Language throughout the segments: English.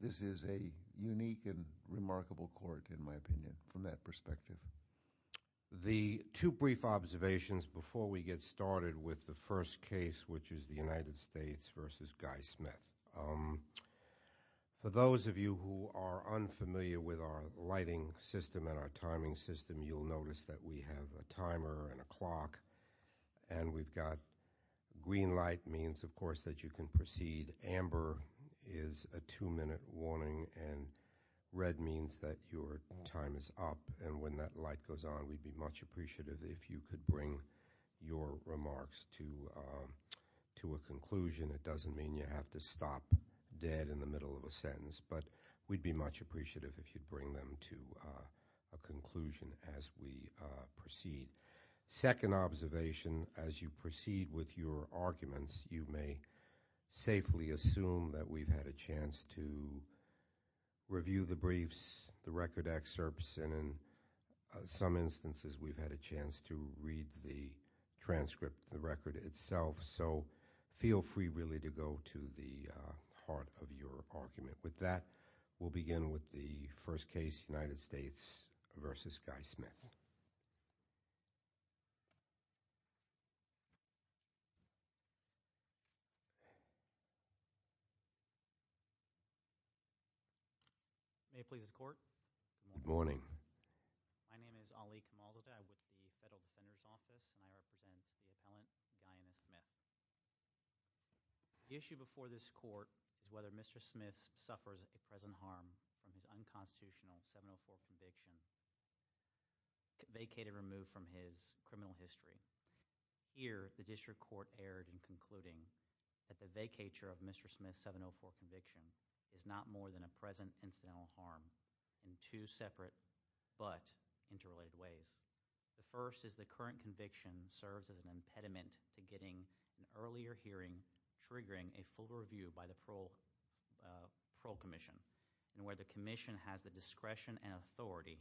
This is a unique and remarkable court, in my opinion, from that perspective. The two brief observations before we get started with the first case, which is the United States v. Guy Smith. For those of you who are unfamiliar with our lighting system and our timing system, you'll notice that we have a timer and a clock, and we've got green light means, of course, that you can proceed. And amber is a two-minute warning, and red means that your time is up. And when that light goes on, we'd be much appreciative if you could bring your remarks to a conclusion. It doesn't mean you have to stop dead in the middle of a sentence, but we'd be much appreciative if you'd bring them to a conclusion as we proceed. Second observation, as you proceed with your arguments, you may safely assume that we've had a chance to review the briefs, the record excerpts, and in some instances, we've had a chance to read the transcript, the record itself. So feel free, really, to go to the heart of your argument. With that, we'll begin with the first case, United States v. Guy Smith. May it please the court. Good morning. My name is Ali Kamalzada. I work for the Federal Defender's Office, and I represent the appellant, Diana Smith. The issue before this court is whether Mr. Smith suffers a present harm from his unconstitutional 704 conviction vacated or removed from his criminal history. Here, the district court erred in concluding that the vacatur of Mr. Smith's 704 conviction is not more than a present incidental harm in two separate but interrelated ways. The first is the current conviction serves as an impediment to getting an earlier hearing triggering a full review by the parole commission, and where the commission has the discretion and authority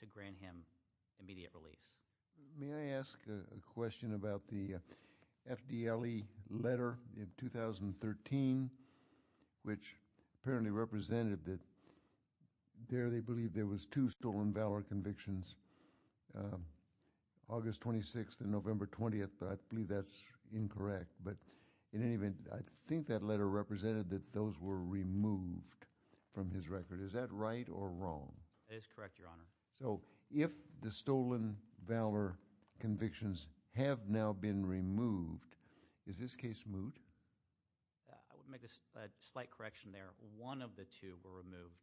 to grant him immediate release. May I ask a question about the FDLE letter in 2013, which apparently represented that there they believed there was two stolen valor convictions, August 26th and November 20th. I believe that's incorrect, but in any event, I think that letter represented that those were removed from his record. Is that right or wrong? It is correct, Your Honor. So if the stolen valor convictions have now been removed, is this case moot? I would make a slight correction there. One of the two were removed.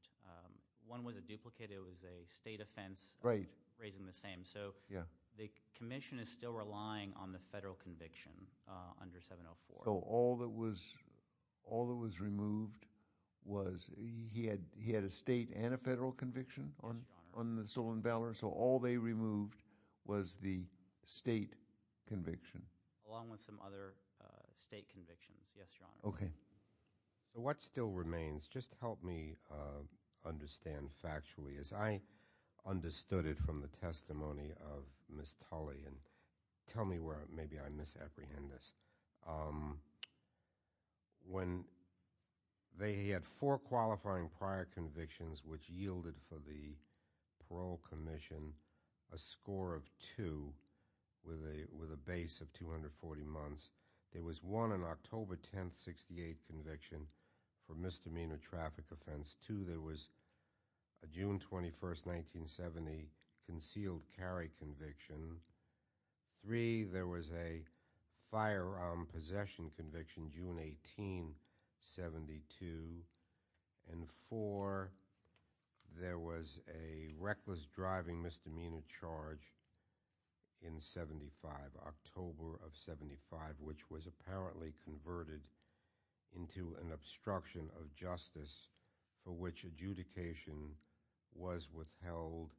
One was a duplicate. It was a state offense raising the same. So the commission is still relying on the federal conviction under 704. So all that was removed was he had a state and a federal conviction on the stolen valor, so all they removed was the state conviction. Along with some other state convictions, yes, Your Honor. Okay. What still remains, just help me understand factually, as I understood it from the testimony of Ms. Tully, and tell me where maybe I misapprehend this. When they had four qualifying prior convictions which yielded for the parole commission a score of two with a base of 240 months, there was one, an October 10th, 68 conviction for misdemeanor traffic offense. Two, there was a June 21st, 1970 concealed carry conviction. Three, there was a firearm possession conviction, June 18, 72. And four, there was a reckless driving misdemeanor charge in 75, October of 75, which was apparently converted into an obstruction of justice for which adjudication was withheld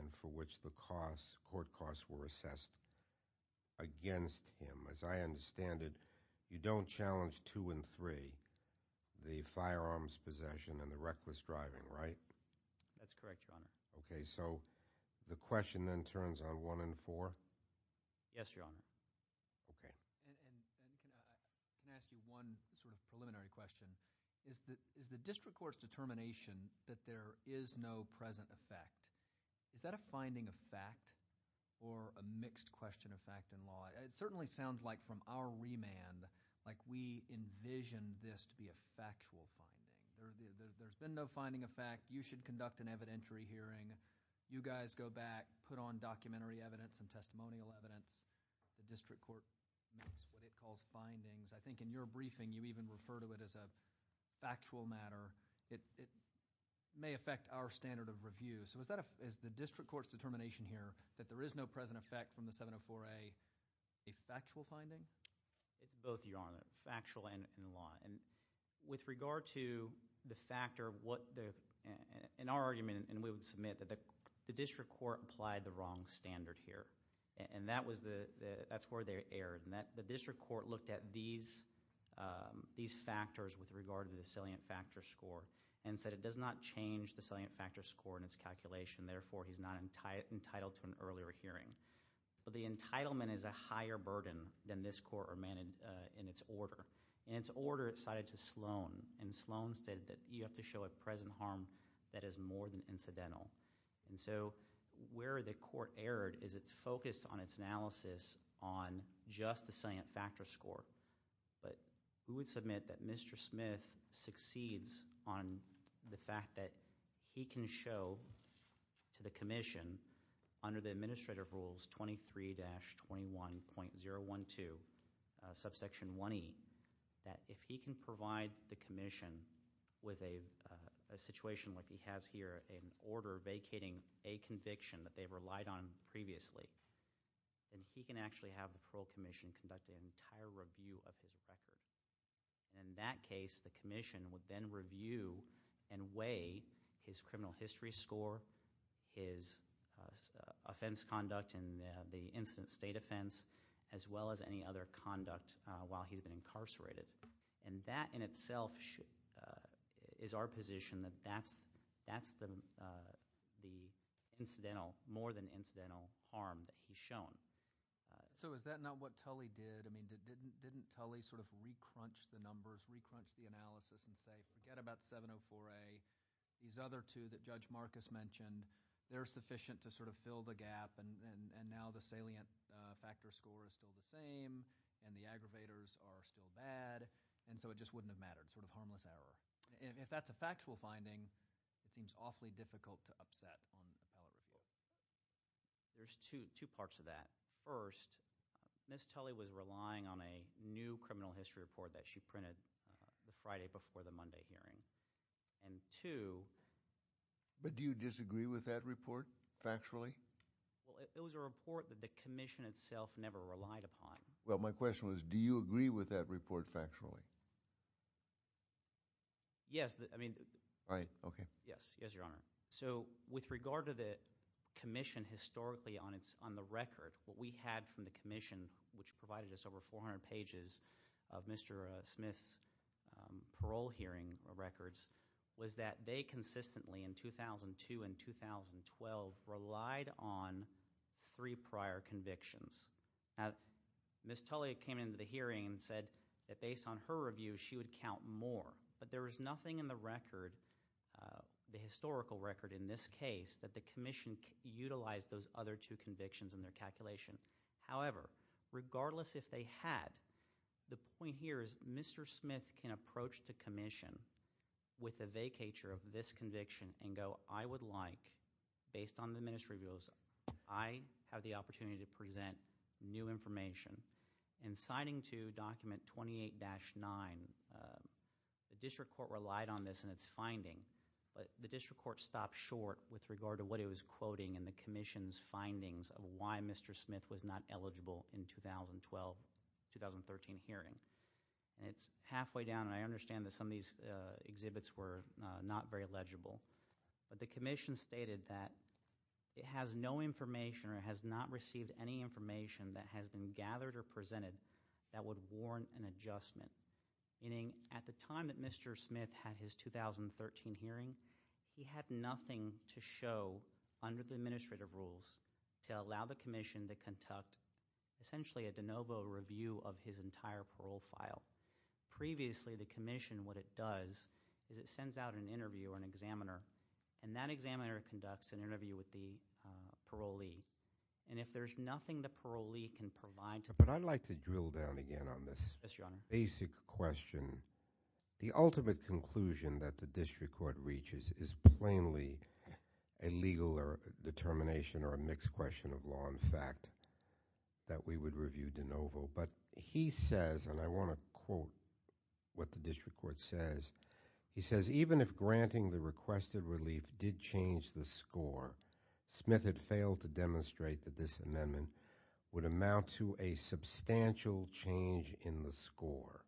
and for which the court costs were assessed against him. As I understand it, you don't challenge two and three, the firearms possession and the reckless driving, right? That's correct, Your Honor. Okay. So the question then turns on one and four? Yes, Your Honor. Okay. And can I ask you one sort of preliminary question? Is the district court's determination that there is no present effect, is that a finding of fact or a mixed question of fact and law? It certainly sounds like from our remand, like we envision this to be a factual finding. There's been no finding of fact. You should conduct an evidentiary hearing. You guys go back, put on documentary evidence and testimonial evidence. The district court makes what it calls findings. I think in your briefing, you even refer to it as a factual matter. It may affect our standard of review. So is the district court's determination here that there is no present effect from the 704A a factual finding? It's both, Your Honor, factual and in law. With regard to the factor, in our argument, and we would submit that the district court applied the wrong standard here, and that's where they erred. The district court looked at these factors with regard to the salient factor score and said it does not change the salient factor score in its calculation. Therefore, he's not entitled to an earlier hearing. But the entitlement is a higher burden than this court or man in its order. In its order, it cited to Sloan, and Sloan stated that you have to show a present harm that is more than incidental. And so where the court erred is it's focused on its analysis on just the salient factor score. But we would submit that Mr. Smith succeeds on the fact that he can show to the commission under the administrative rules 23-21.012, subsection 1E, that if he can provide the commission with a situation like he has here, an order vacating a conviction that they've relied on previously, then he can actually have the parole commission conduct an entire review of his record. In that case, the commission would then review and weigh his criminal history score, his offense conduct and the incident state offense, as well as any other conduct while he's been incarcerated. And that in itself is our position that that's the incidental, more than incidental harm that he's shown. So is that not what Tully did? I mean didn't Tully sort of re-crunch the numbers, re-crunch the analysis and say, forget about 704A, these other two that Judge Marcus mentioned, they're sufficient to sort of fill the gap and now the salient factor score is still the same and the aggravators are still bad and so it just wouldn't have mattered, sort of harmless error. If that's a factual finding, it seems awfully difficult to upset on the appellate report. There's two parts of that. First, Ms. Tully was relying on a new criminal history report that she printed the Friday before the Monday hearing. And two... But do you disagree with that report, factually? Well, it was a report that the commission itself never relied upon. Well, my question was do you agree with that report factually? Yes, I mean... Right, okay. Yes, yes, Your Honor. So with regard to the commission historically on the record, what we had from the commission, which provided us over 400 pages of Mr. Smith's parole hearing records, was that they consistently in 2002 and 2012 relied on three prior convictions. Now, Ms. Tully came into the hearing and said that based on her review, she would count more. But there was nothing in the record, the historical record in this case, that the commission utilized those other two convictions in their calculation. However, regardless if they had, the point here is Mr. Smith can approach the commission with a vacatur of this conviction and go, I would like, based on the ministry rules, I have the opportunity to present new information. And citing to document 28-9, the district court relied on this in its finding, but the district court stopped short with regard to what it was quoting and the commission's findings of why Mr. Smith was not eligible in 2012-2013 hearing. It's halfway down, and I understand that some of these exhibits were not very legible. But the commission stated that it has no information or has not received any information that has been gathered or presented that would warrant an adjustment. Meaning at the time that Mr. Smith had his 2013 hearing, he had nothing to show under the administrative rules to allow the commission to conduct essentially a de novo review of his entire parole file. Previously, the commission, what it does is it sends out an interview or an examiner, and that examiner conducts an interview with the parolee. And if there's nothing the parolee can provide to them— But I'd like to drill down again on this basic question. The ultimate conclusion that the district court reaches is plainly a legal determination or a mixed question of law and fact that we would review de novo. But he says, and I want to quote what the district court says, he says, even if granting the requested relief did change the score, Smith had failed to demonstrate that this amendment would amount to a substantial change in the score,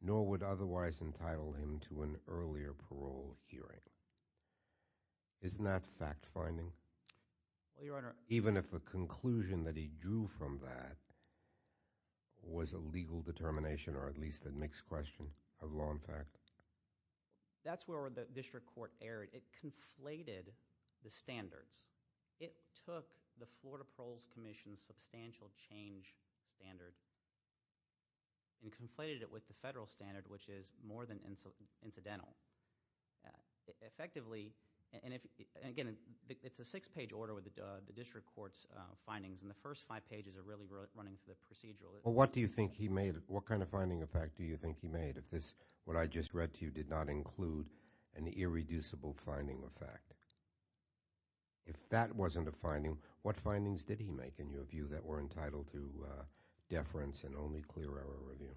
nor would otherwise entitle him to an earlier parole hearing. Isn't that fact-finding? Well, Your Honor— Even if the conclusion that he drew from that was a legal determination or at least a mixed question of law and fact? That's where the district court erred. It conflated the standards. It took the Florida Paroles Commission's substantial change standard and conflated it with the federal standard, which is more than incidental. Effectively, and again, it's a six-page order with the district court's findings, and the first five pages are really running through the procedural. Well, what do you think he made? What kind of finding of fact do you think he made if this, what I just read to you, did not include an irreducible finding of fact? If that wasn't a finding, what findings did he make in your view that were entitled to deference and only clear error review?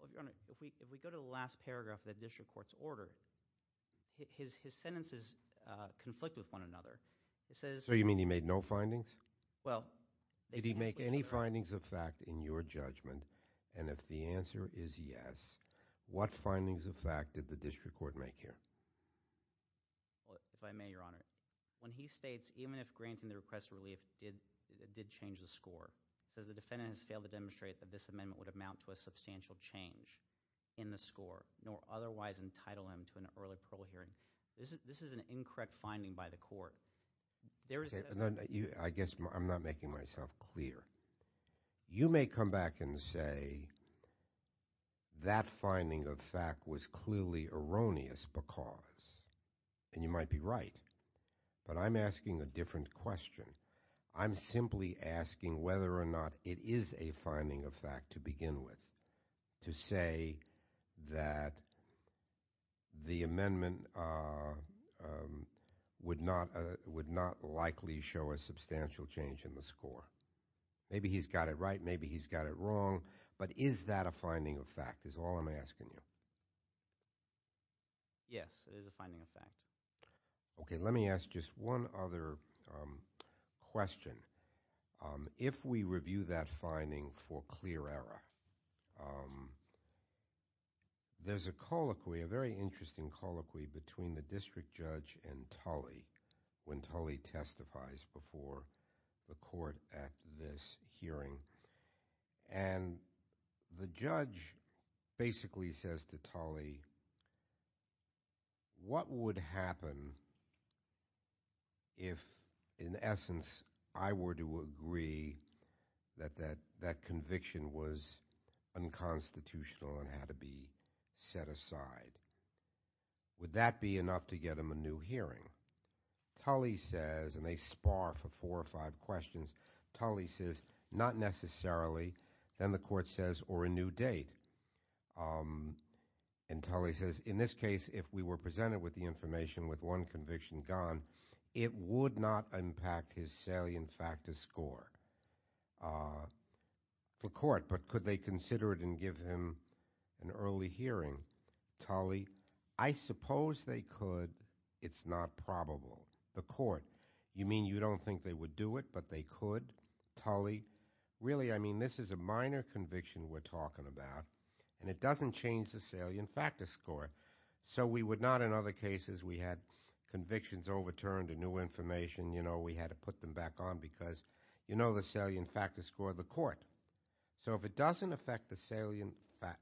Well, Your Honor, if we go to the last paragraph of the district court's order, his sentences conflict with one another. So you mean he made no findings? Well— Did he make any findings of fact in your judgment? And if the answer is yes, what findings of fact did the district court make here? If I may, Your Honor, when he states, even if granting the request of relief did change the score, it says the defendant has failed to demonstrate that this amendment would amount to a substantial change in the score, nor otherwise entitle him to an early parole hearing, this is an incorrect finding by the court. I guess I'm not making myself clear. You may come back and say that finding of fact was clearly erroneous because, and you might be right, but I'm asking a different question. I'm simply asking whether or not it is a finding of fact to begin with, to say that the amendment would not likely show a substantial change in the score. Maybe he's got it right. Maybe he's got it wrong. But is that a finding of fact is all I'm asking you. Yes, it is a finding of fact. Okay, let me ask just one other question. If we review that finding for clear error, there's a colloquy, a very interesting colloquy between the district judge and Tully when Tully testifies before the court at this hearing. And the judge basically says to Tully, what would happen if, in essence, I were to agree that that conviction was unconstitutional and had to be set aside? Would that be enough to get him a new hearing? Tully says, and they spar for four or five questions, Tully says, not necessarily. Then the court says, or a new date. And Tully says, in this case, if we were presented with the information with one conviction gone, it would not impact his salient fact to score. The court, but could they consider it and give him an early hearing? Tully, I suppose they could. It's not probable. The court, you mean you don't think they would do it, but they could? Tully, really, I mean, this is a minor conviction we're talking about, and it doesn't change the salient fact to score. So we would not, in other cases, we had convictions overturned or new information, you know, we had to put them back on because, you know, the salient fact to score, the court. So if it doesn't affect the salient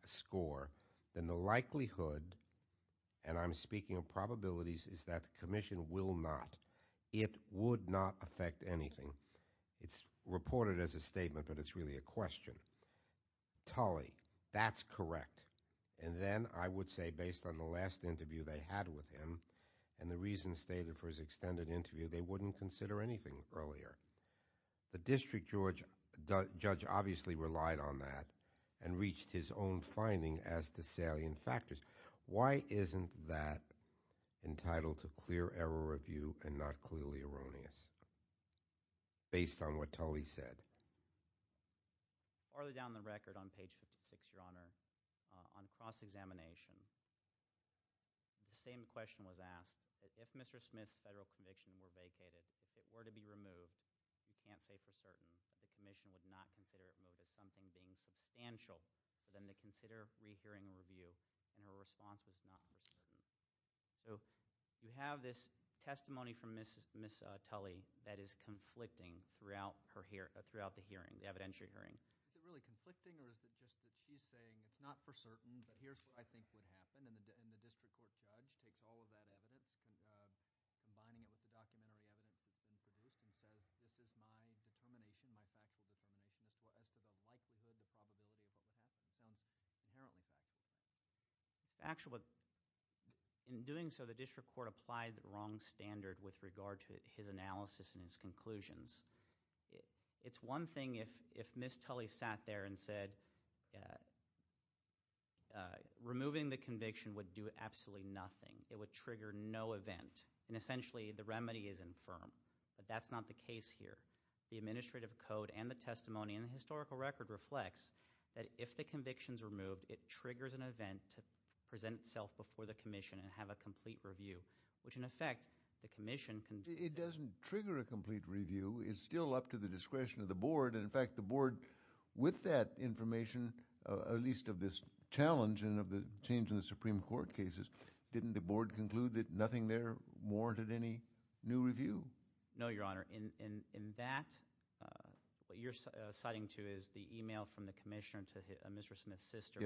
score, then the likelihood, and I'm speaking of probabilities, is that the commission will not. It would not affect anything. It's reported as a statement, but it's really a question. Tully, that's correct. And then I would say, based on the last interview they had with him and the reasons stated for his extended interview, they wouldn't consider anything earlier. The district judge obviously relied on that and reached his own finding as to salient factors. Why isn't that entitled to clear error review and not clearly erroneous based on what Tully said? Far down the record on page 56, Your Honor, on cross-examination, the same question was asked. If Mr. Smith's federal conviction were vacated, if it were to be removed, you can't say for certain. The commission would not consider it removed as something being substantial, but then they consider rehearing a review, and her response was not for certain. So you have this testimony from Ms. Tully that is conflicting throughout the hearing, the evidentiary hearing. Is it really conflicting or is it just that she's saying it's not for certain, but here's what I think would happen, and the district court judge takes all of that evidence, combining it with the documentary evidence introduced, and says this is my determination, my factual determination as to the likelihood, the probability of what would happen. It sounds inherently factual. Actually, in doing so, the district court applied the wrong standard with regard to his analysis and his conclusions. It's one thing if Ms. Tully sat there and said removing the conviction would do absolutely nothing. It would trigger no event, and essentially the remedy is infirm, but that's not the case here. The administrative code and the testimony in the historical record reflects that if the conviction's removed, it triggers an event to present itself before the commission and have a complete review, which in effect, the commission can- It doesn't trigger a complete review. It's still up to the discretion of the board, and in fact, the board with that information, at least of this challenge and of the change in the Supreme Court cases, didn't the board conclude that nothing there warranted any new review? No, Your Honor. In that, what you're citing to is the email from the commissioner to Mr. Smith's sister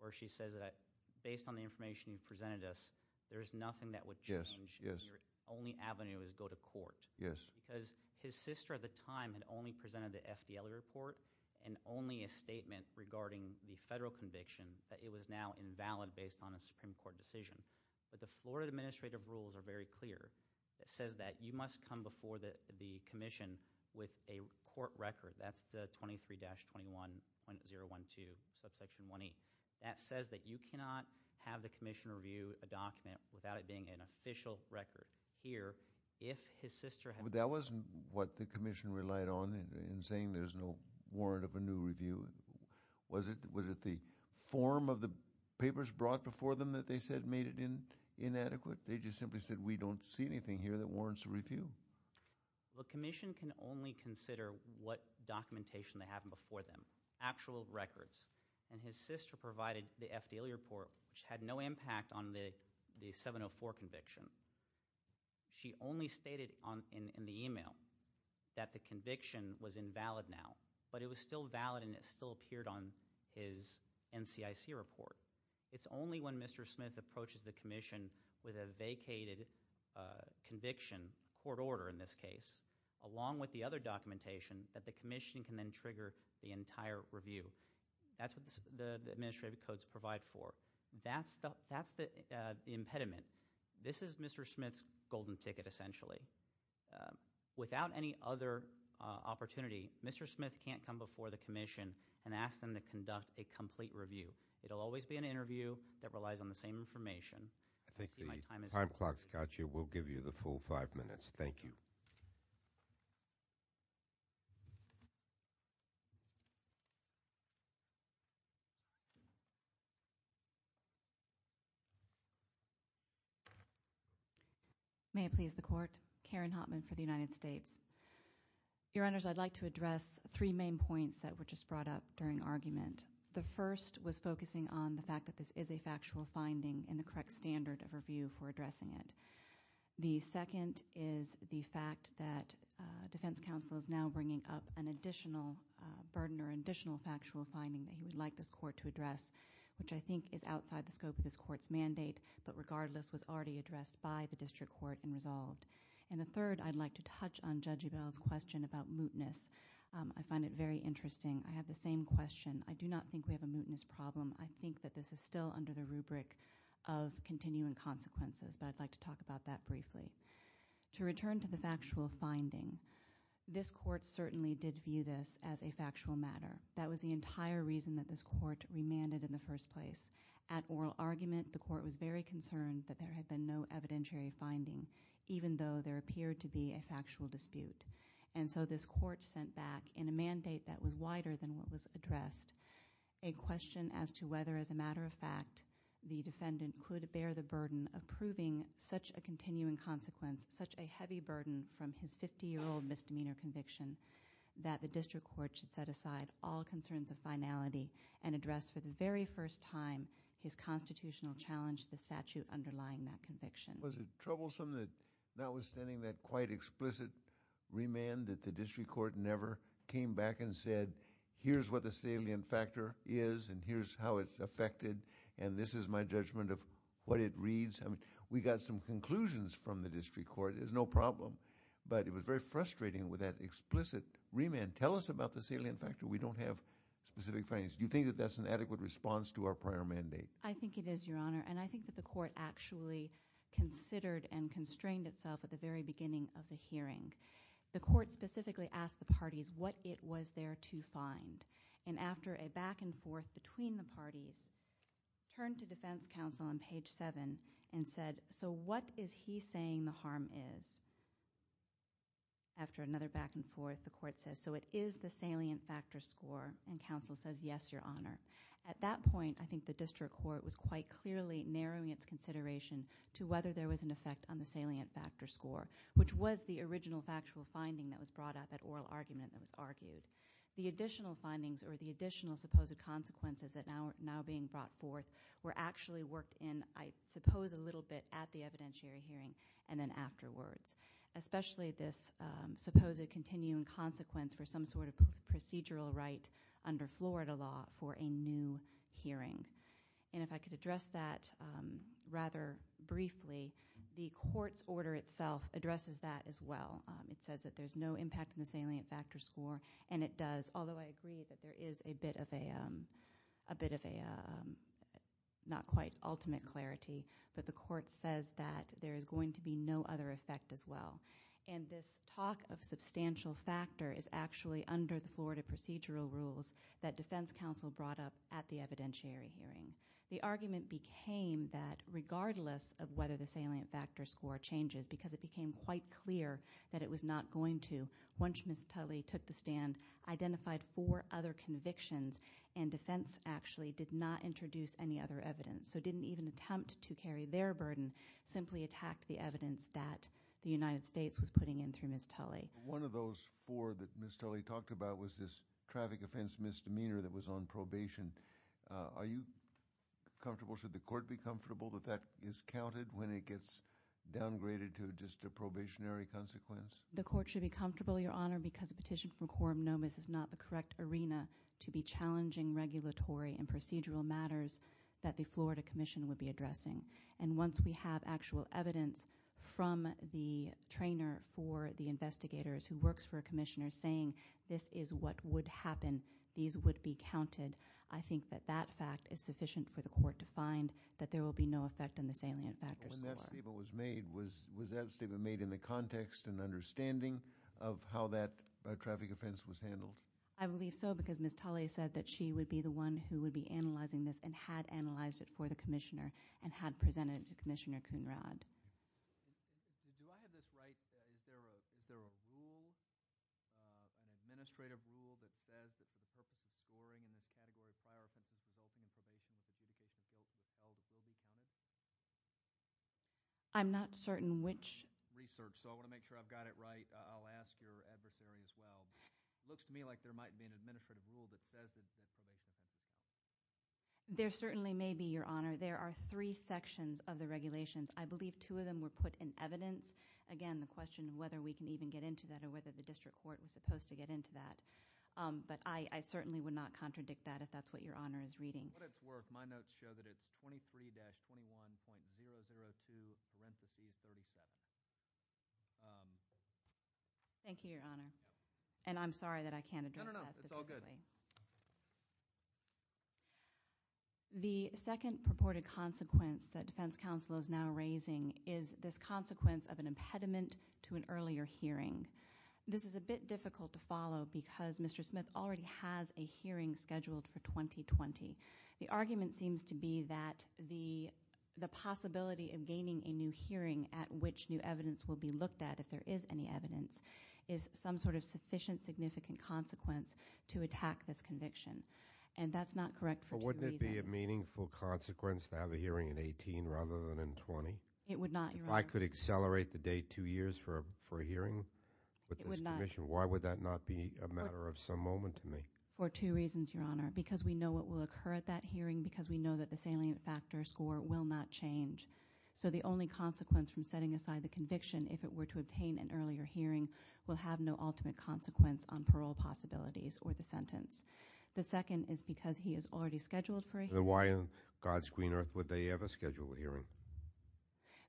where she says that based on the information you've presented us, there is nothing that would change. Yes, yes. Your only avenue is go to court. Yes. Because his sister at the time had only presented the FDLA report and only a statement regarding the federal conviction, that it was now invalid based on a Supreme Court decision, but the Florida administrative rules are very clear. It says that you must come before the commission with a court record. That's the 23-21.012, subsection 1E. That says that you cannot have the commission review a document without it being an official record here if his sister had- That wasn't what the commission relied on in saying there's no warrant of a new review. Was it the form of the papers brought before them that they said made it inadequate? They just simply said we don't see anything here that warrants a review. The commission can only consider what documentation they have before them, actual records. And his sister provided the FDLA report, which had no impact on the 704 conviction. She only stated in the email that the conviction was invalid now, but it was still valid and it still appeared on his NCIC report. It's only when Mr. Smith approaches the commission with a vacated conviction, court order in this case, along with the other documentation, that the commission can then trigger the entire review. That's what the administrative codes provide for. That's the impediment. This is Mr. Smith's golden ticket, essentially. Without any other opportunity, Mr. Smith can't come before the commission and ask them to conduct a complete review. It'll always be an interview that relies on the same information. I think the time clock's got you. We'll give you the full five minutes. Thank you. May it please the court. Karen Hotman for the United States. Your Honors, I'd like to address three main points that were just brought up during argument. The first was focusing on the fact that this is a factual finding and the correct standard of review for addressing it. The second is the fact that defense counsel is now bringing up an additional burden or additional factual finding that he would like this court to address, which I think is outside the scope of this court's mandate, but regardless was already addressed by the district court and resolved. And the third, I'd like to touch on Judge Ebell's question about mootness. I find it very interesting. I have the same question. I do not think we have a mootness problem. I think that this is still under the rubric of continuing consequences, but I'd like to talk about that briefly. To return to the factual finding, this court certainly did view this as a factual matter. That was the entire reason that this court remanded in the first place. At oral argument, the court was very concerned that there had been no evidentiary finding, even though there appeared to be a factual dispute. And so this court sent back in a mandate that was wider than what was addressed a question as to whether, as a matter of fact, the defendant could bear the burden of proving such a continuing consequence, such a heavy burden from his 50-year-old misdemeanor conviction, that the district court should set aside all concerns of finality and address for the very first time his constitutional challenge to the statute underlying that conviction. Was it troublesome that notwithstanding that quite explicit remand that the district court never came back and said, here's what the salient factor is and here's how it's affected and this is my judgment of what it reads? We got some conclusions from the district court. There's no problem, but it was very frustrating with that explicit remand. Tell us about the salient factor. We don't have specific findings. Do you think that that's an adequate response to our prior mandate? I think it is, Your Honor. And I think that the court actually considered and constrained itself at the very beginning of the hearing. The court specifically asked the parties what it was there to find. And after a back and forth between the parties, turned to defense counsel on page 7 and said, so what is he saying the harm is? After another back and forth, the court says, so it is the salient factor score. And counsel says, yes, Your Honor. At that point, I think the district court was quite clearly narrowing its consideration to whether there was an effect on the salient factor score, which was the original factual finding that was brought up, that oral argument that was argued. The additional findings or the additional supposed consequences that are now being brought forth were actually worked in, I suppose, a little bit at the evidentiary hearing and then afterwards, especially this supposed continuing consequence for some sort of procedural right under Florida law for a new hearing. And if I could address that rather briefly, the court's order itself addresses that as well. It says that there's no impact on the salient factor score. And it does, although I agree that there is a bit of a not quite ultimate clarity, but the court says that there is going to be no other effect as well. And this talk of substantial factor is actually under the Florida procedural rules that defense counsel brought up at the evidentiary hearing. The argument became that regardless of whether the salient factor score changes, because it became quite clear that it was not going to, once Ms. Tully took the stand, identified four other convictions, and defense actually did not introduce any other evidence. So didn't even attempt to carry their burden, simply attacked the evidence that the United States was putting in through Ms. Tully. One of those four that Ms. Tully talked about was this traffic offense misdemeanor that was on probation. Are you comfortable, should the court be comfortable that that is counted when it gets downgraded to just a probationary consequence? The court should be comfortable, Your Honor, because a petition from quorum nomis is not the correct arena to be challenging regulatory and procedural matters that the Florida Commission would be addressing. And once we have actual evidence from the trainer for the investigators who works for a commissioner saying, this is what would happen, these would be counted, I think that that fact is sufficient for the court to find that there will be no effect on the salient factor score. When that statement was made, was that statement made in the context and understanding of how that traffic offense was handled? I believe so, because Ms. Tully said that she would be the one who would be analyzing this and had analyzed it for the commissioner and had presented it to Commissioner Coonrad. Do I have this right? Is there a rule, an administrative rule, that says that the purpose of scoring in this category of fire offenses resulting in probation is a duplication of those held at Wilby County? I'm not certain which. Research, so I want to make sure I've got it right. I'll ask your adversary as well. It looks to me like there might be an administrative rule that says that probation is a duplication. There certainly may be, Your Honor. There are three sections of the regulations. I believe two of them were put in evidence. Again, the question of whether we can even get into that or whether the district court was supposed to get into that. But I certainly would not contradict that if that's what Your Honor is reading. In what it's worth, my notes show that it's 23-21.002, parentheses, 37. Thank you, Your Honor. And I'm sorry that I can't address that specifically. No, no, no. It's all good. The second purported consequence that defense counsel is now raising is this consequence of an impediment to an earlier hearing. This is a bit difficult to follow because Mr. Smith already has a hearing scheduled for 2020. The argument seems to be that the possibility of gaining a new hearing at which new evidence will be looked at if there is any evidence is some sort of sufficient significant consequence to attack this conviction. And that's not correct for two reasons. But wouldn't it be a meaningful consequence to have a hearing in 2018 rather than in 2020? It would not, Your Honor. If I could accelerate the date two years for a hearing with this commission, why would that not be a matter of some moment to me? For two reasons, Your Honor. Because we know what will occur at that hearing. Because we know that the salient factor score will not change. So the only consequence from setting aside the conviction if it were to obtain an earlier hearing will have no ultimate consequence on parole possibilities or the sentence. The second is because he is already scheduled for a hearing. Then why on God's green earth would they ever schedule a hearing?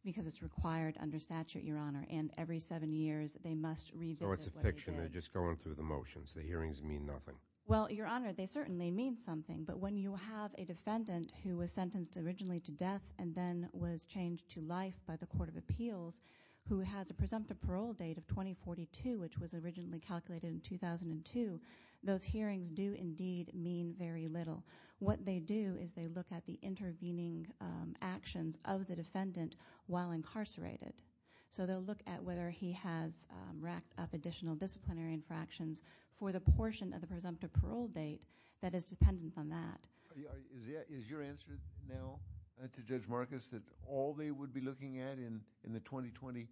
Because it's required under statute, Your Honor. And every seven years they must revisit what they did. So it's a fiction. They're just going through the motions. The hearings mean nothing. Well, Your Honor, they certainly mean something. But when you have a defendant who was sentenced originally to death and then was changed to life by the Court of Appeals who has a presumptive parole date of 2042, which was originally calculated in 2002, those hearings do indeed mean very little. What they do is they look at the intervening actions of the defendant while incarcerated. So they'll look at whether he has racked up additional disciplinary infractions for the portion of the presumptive parole date that is dependent on that. Is your answer now to Judge Marcus that all they would be looking at in the 2020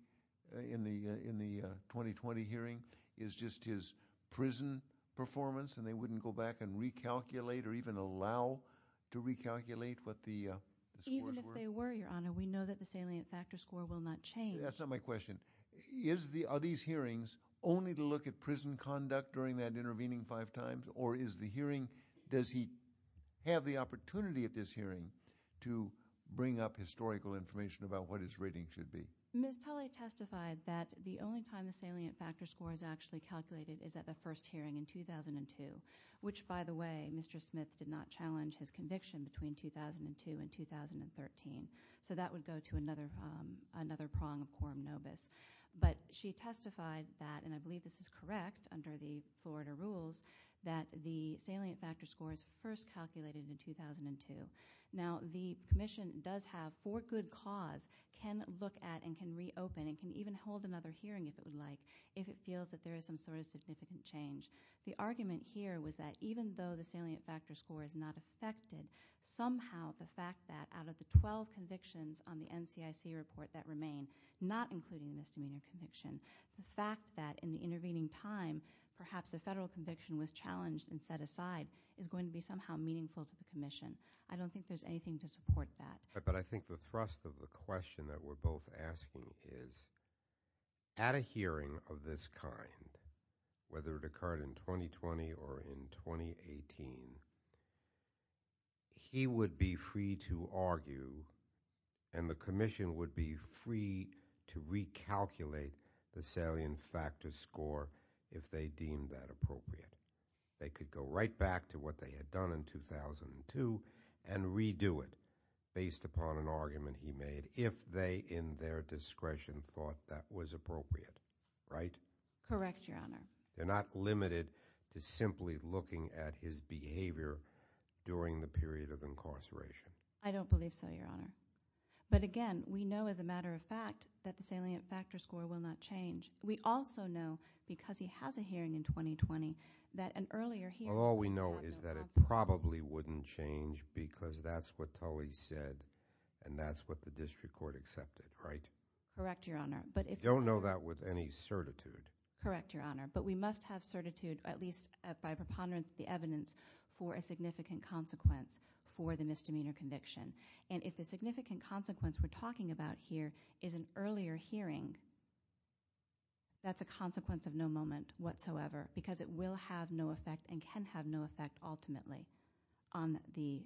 hearing is just his prison performance and they wouldn't go back and recalculate or even allow to recalculate what the scores were? Even if they were, Your Honor, we know that the salient factor score will not change. That's not my question. Are these hearings only to look at prison conduct during that intervening five times? Or is the hearing – does he have the opportunity at this hearing to bring up historical information about what his rating should be? Ms. Tully testified that the only time the salient factor score is actually calculated is at the first hearing in 2002, which, by the way, Mr. Smith did not challenge his conviction between 2002 and 2013. So that would go to another prong of quorum nobis. But she testified that – and I believe this is correct under the Florida rules – that the salient factor score is first calculated in 2002. Now, the commission does have for good cause can look at and can reopen and can even hold another hearing if it would like if it feels that there is some sort of significant change. The argument here was that even though the salient factor score is not affected, somehow the fact that out of the 12 convictions on the NCIC report that remain, not including the misdemeanor conviction, the fact that in the intervening time perhaps a federal conviction was challenged and set aside is going to be somehow meaningful to the commission. I don't think there's anything to support that. But I think the thrust of the question that we're both asking is at a hearing of this kind, whether it occurred in 2020 or in 2018, he would be free to argue and the commission would be free to recalculate the salient factor score if they deemed that appropriate. They could go right back to what they had done in 2002 and redo it based upon an argument he made if they in their discretion thought that was appropriate, right? Correct, Your Honor. They're not limited to simply looking at his behavior during the period of incarceration. I don't believe so, Your Honor. But again, we know as a matter of fact that the salient factor score will not change. We also know because he has a hearing in 2020 that an earlier hearing- Well, all we know is that it probably wouldn't change because that's what Tully said and that's what the district court accepted, right? Correct, Your Honor. We don't know that with any certitude. Correct, Your Honor. But we must have certitude, at least by preponderance of the evidence, for a significant consequence for the misdemeanor conviction. And if the significant consequence we're talking about here is an earlier hearing, that's a consequence of no moment whatsoever because it will have no effect and can have no effect ultimately on the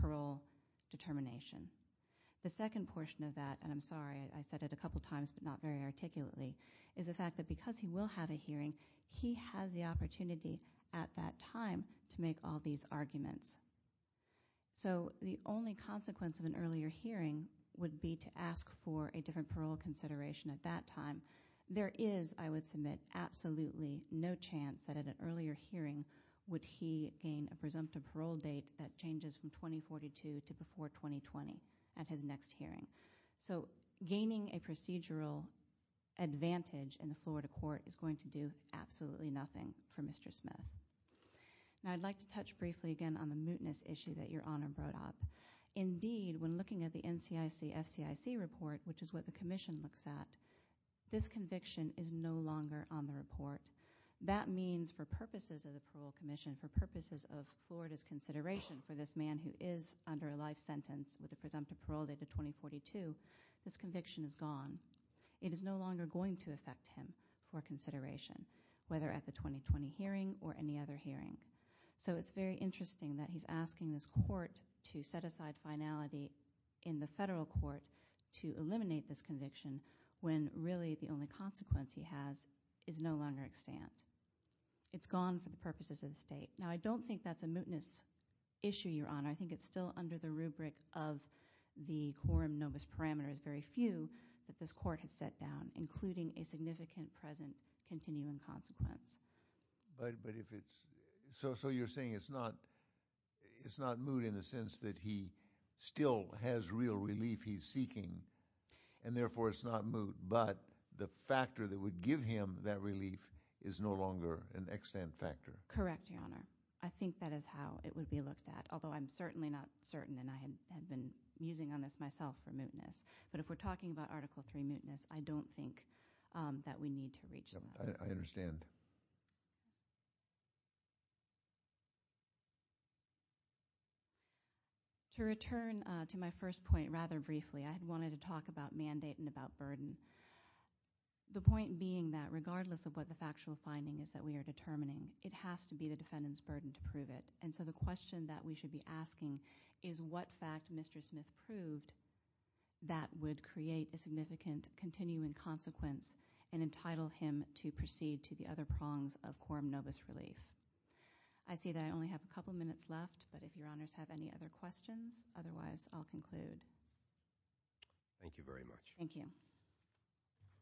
parole determination. The second portion of that, and I'm sorry, I said it a couple times but not very articulately, is the fact that because he will have a hearing, he has the opportunity at that time to make all these arguments. So the only consequence of an earlier hearing would be to ask for a different parole consideration at that time. There is, I would submit, absolutely no chance that at an earlier hearing would he gain a presumptive parole date that changes from 2042 to before 2020 at his next hearing. So gaining a procedural advantage in the Florida court is going to do absolutely nothing for Mr. Smith. Now I'd like to touch briefly again on the mootness issue that Your Honor brought up. Indeed, when looking at the NCIC-FCIC report, which is what the commission looks at, this conviction is no longer on the report. That means for purposes of the parole commission, for purposes of Florida's consideration for this man who is under a life sentence with a presumptive parole date of 2042, this conviction is gone. It is no longer going to affect him for consideration, whether at the 2020 hearing or any other hearing. So it's very interesting that he's asking this court to set aside finality in the federal court to eliminate this conviction when really the only consequence he has is no longer extant. It's gone for the purposes of the state. Now I don't think that's a mootness issue, Your Honor. I think it's still under the rubric of the quorum nobis parameter. It's very few that this court has set down, including a significant present continuing consequence. But if it's – so you're saying it's not moot in the sense that he still has real relief he's seeking and therefore it's not moot, but the factor that would give him that relief is no longer an extant factor. Correct, Your Honor. I think that is how it would be looked at, although I'm certainly not certain, and I had been musing on this myself for mootness. But if we're talking about Article III mootness, I don't think that we need to reach that. I understand. To return to my first point rather briefly, I had wanted to talk about mandate and about burden. The point being that regardless of what the factual finding is that we are determining, it has to be the defendant's burden to prove it. And so the question that we should be asking is what fact Mr. Smith proved that would create a significant continuing consequence and entitle him to proceed to the other prongs of quorum novus relief. I see that I only have a couple minutes left, but if Your Honors have any other questions, otherwise I'll conclude. Thank you very much. Thank you. Thank you.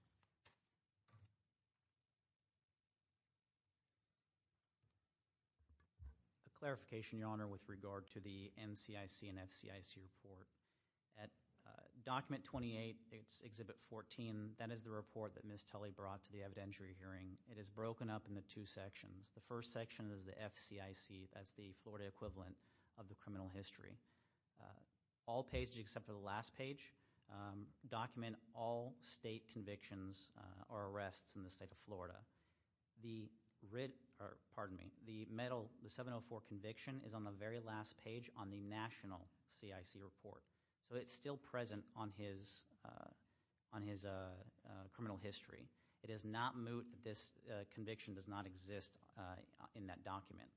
A clarification, Your Honor, with regard to the NCIC and FCIC report. At Document 28, Exhibit 14, that is the report that Ms. Tully brought to the evidentiary hearing. It is broken up into two sections. The first section is the FCIC. That's the Florida equivalent of the criminal history. All pages except for the last page document all state convictions or arrests in the state of Florida. The 704 conviction is on the very last page on the national CIC report. So it's still present on his criminal history. It is not moot. This conviction does not exist in that document.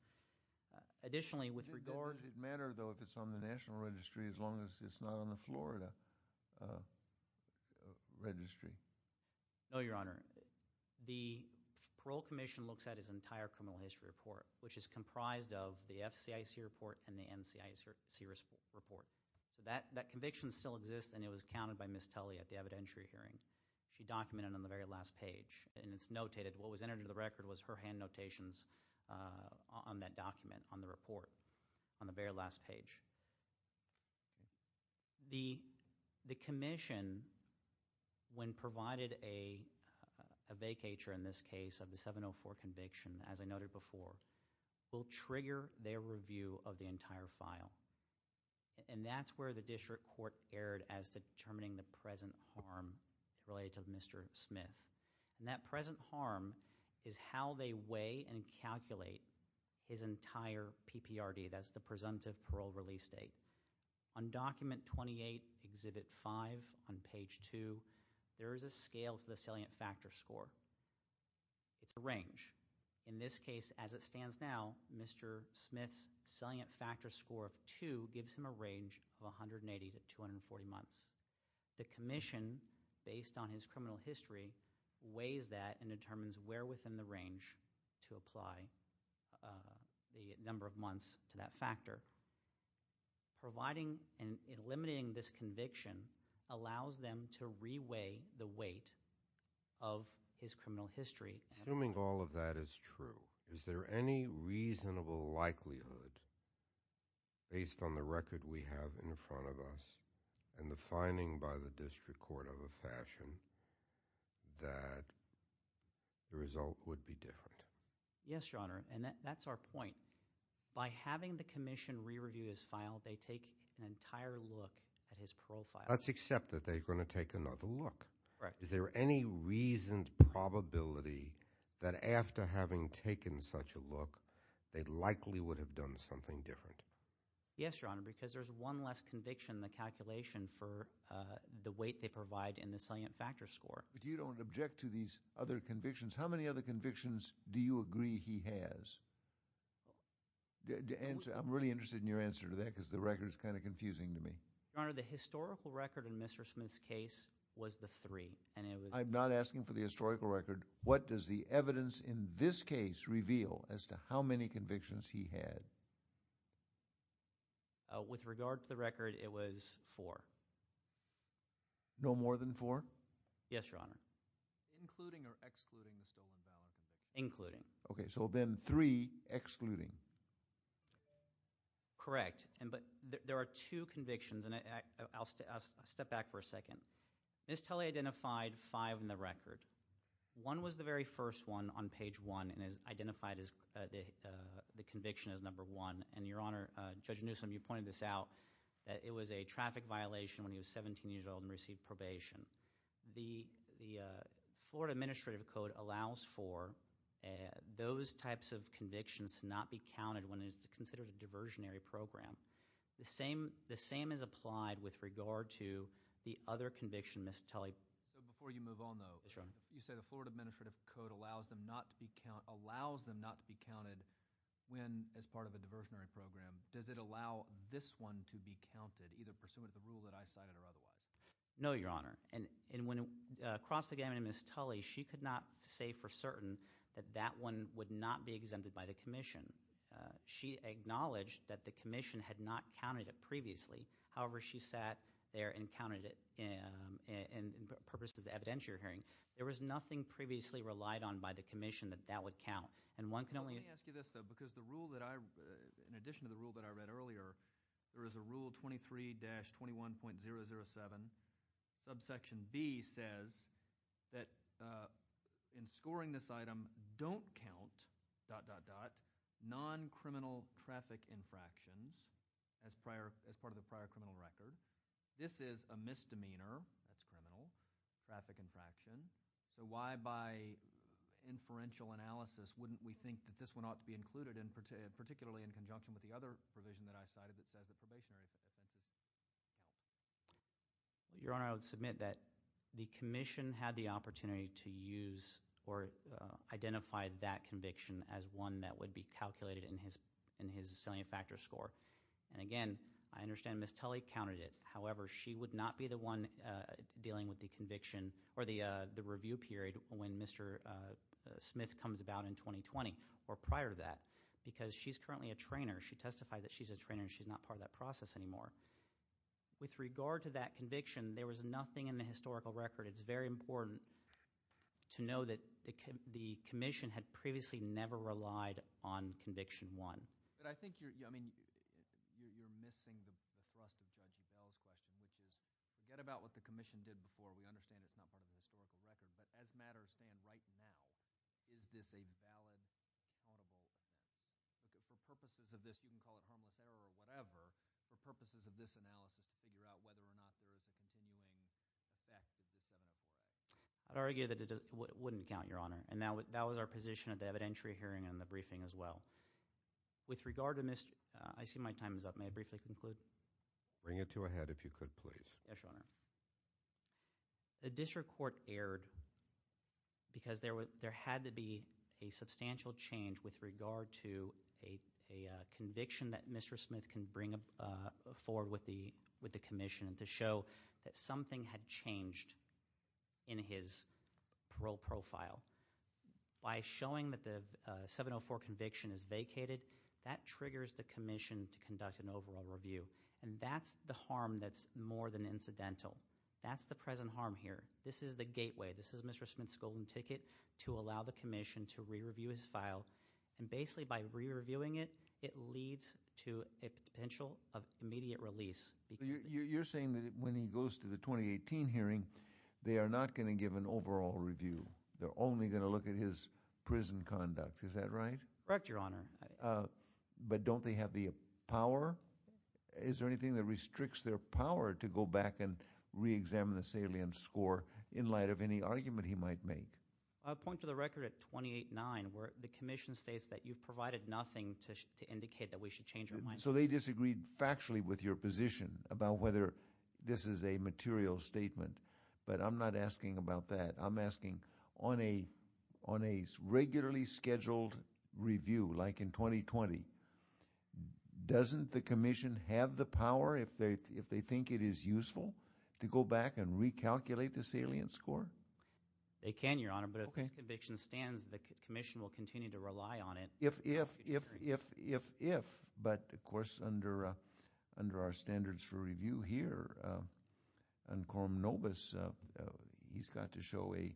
Additionally, with regard— Does it matter, though, if it's on the national registry as long as it's not on the Florida registry? No, Your Honor. The Parole Commission looks at his entire criminal history report, which is comprised of the FCIC report and the NCIC report. That conviction still exists, and it was counted by Ms. Tully at the evidentiary hearing. She documented it on the very last page, and it's notated. What was entered into the record was her hand notations on that document, on the report, on the very last page. The commission, when provided a vacatur in this case of the 704 conviction, as I noted before, will trigger their review of the entire file, and that's where the district court erred as determining the present harm related to Mr. Smith. And that present harm is how they weigh and calculate his entire PPRD. That's the presumptive parole release date. On Document 28, Exhibit 5, on page 2, there is a scale for the salient factor score. It's a range. In this case, as it stands now, Mr. Smith's salient factor score of 2 gives him a range of 180 to 240 months. The commission, based on his criminal history, weighs that and determines where within the range to apply the number of months to that factor. Providing and eliminating this conviction allows them to re-weigh the weight of his criminal history. Assuming all of that is true, is there any reasonable likelihood, based on the record we have in front of us and the finding by the district court of a fashion, that the result would be different? Yes, Your Honor, and that's our point. By having the commission re-review his file, they take an entire look at his parole file. Let's accept that they're going to take another look. Right. Is there any reasoned probability that after having taken such a look, they likely would have done something different? Yes, Your Honor, because there's one less conviction in the calculation for the weight they provide in the salient factor score. But you don't object to these other convictions? How many other convictions do you agree he has? I'm really interested in your answer to that because the record is kind of confusing to me. Your Honor, the historical record in Mr. Smith's case was the three. I'm not asking for the historical record. What does the evidence in this case reveal as to how many convictions he had? With regard to the record, it was four. No more than four? Yes, Your Honor. Including or excluding the stolen ballot? Including. Okay, so then three excluding. Correct, but there are two convictions, and I'll step back for a second. Ms. Tully identified five in the record. One was the very first one on page one and is identified as the conviction as number one. And, Your Honor, Judge Newsom, you pointed this out. It was a traffic violation when he was 17 years old and received probation. The Florida Administrative Code allows for those types of convictions to not be counted when it's considered a diversionary program. The same is applied with regard to the other conviction, Ms. Tully. Before you move on, though, you said the Florida Administrative Code allows them not to be counted when as part of a diversionary program. Does it allow this one to be counted, either pursuant to the rule that I cited or otherwise? No, Your Honor, and when it crossed the gamut of Ms. Tully, she could not say for certain that that one would not be exempted by the commission. She acknowledged that the commission had not counted it previously. However, she sat there and counted it in purpose of the evidence you're hearing. There was nothing previously relied on by the commission that that would count, and one can only Let me ask you this, though, because the rule that I, in addition to the rule that I read earlier, there is a Rule 23-21.007. Subsection B says that in scoring this item, don't count, dot, dot, dot, non-criminal traffic infractions as part of the prior criminal record. This is a misdemeanor, that's criminal, traffic infraction. So why, by inferential analysis, wouldn't we think that this one ought to be included, particularly in conjunction with the other provision that I cited that says the probationary. Your Honor, I would submit that the commission had the opportunity to use or identify that conviction as one that would be calculated in his in his salient factor score. And again, I understand Ms. Tully counted it. However, she would not be the one dealing with the conviction or the review period when Mr. Smith comes about in 2020 or prior to that, because she's currently a trainer. She testified that she's a trainer. She's not part of that process anymore. With regard to that conviction, there was nothing in the historical record. It's very important to know that the commission had previously never relied on conviction one. But I think you're, I mean, you're missing the thrust of Judge O'Dell's question, which is forget about what the commission did before. We understand it's not part of the historical record. But as matters stand right now, is this a valid, audible, for purposes of this, you can call it harmless error or whatever, for purposes of this analysis to figure out whether or not there is a continuing effect of this evidence? I'd argue that it wouldn't count, Your Honor. And that was our position at the evidentiary hearing and the briefing as well. With regard to Mr. — I see my time is up. May I briefly conclude? Bring it to a head if you could, please. Yes, Your Honor. The district court erred because there had to be a substantial change with regard to a conviction that Mr. Smith can bring forward with the commission to show that something had changed in his parole profile. By showing that the 704 conviction is vacated, that triggers the commission to conduct an overall review. And that's the harm that's more than incidental. That's the present harm here. This is the gateway. This is Mr. Smith's golden ticket to allow the commission to re-review his file. And basically by re-reviewing it, it leads to a potential of immediate release. You're saying that when he goes to the 2018 hearing, they are not going to give an overall review. They're only going to look at his prison conduct. Is that right? Correct, Your Honor. But don't they have the power? Is there anything that restricts their power to go back and re-examine the salient score in light of any argument he might make? I'll point to the record at 28-9 where the commission states that you've provided nothing to indicate that we should change our mind. So they disagreed factually with your position about whether this is a material statement. But I'm not asking about that. I'm asking on a regularly scheduled review like in 2020, doesn't the commission have the power, if they think it is useful, to go back and recalculate the salient score? They can, Your Honor. But if this conviction stands, the commission will continue to rely on it. But, of course, under our standards for review here, Encorum Novus, he's got to show a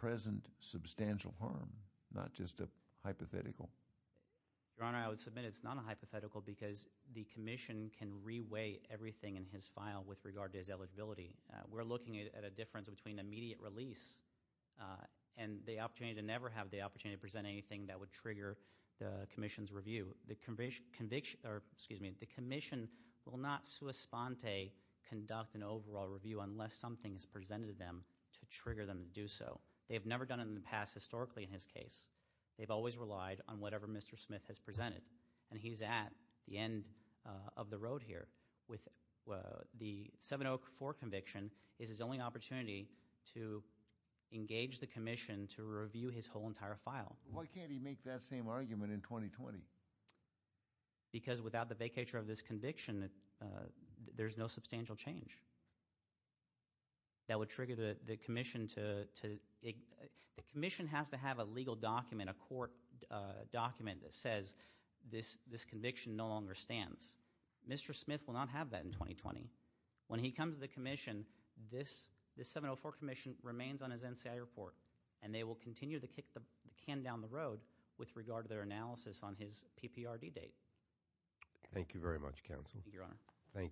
present substantial harm, not just a hypothetical. Your Honor, I would submit it's not a hypothetical because the commission can re-weigh everything in his file with regard to his eligibility. We're looking at a difference between immediate release and the opportunity to never have the opportunity to present anything that would trigger the commission's review. The commission will not sui sponte conduct an overall review unless something is presented to them to trigger them to do so. They've never done it in the past historically in his case. They've always relied on whatever Mr. Smith has presented. And he's at the end of the road here. The 704 conviction is his only opportunity to engage the commission to review his whole entire file. Why can't he make that same argument in 2020? Because without the vacatur of this conviction, there's no substantial change. That would trigger the commission to, the commission has to have a legal document, a court document that says this conviction no longer stands. Mr. Smith will not have that in 2020. When he comes to the commission, this 704 commission remains on his NCI report. And they will continue to kick the can down the road with regard to their analysis on his PPRD date. Thank you, Your Honor.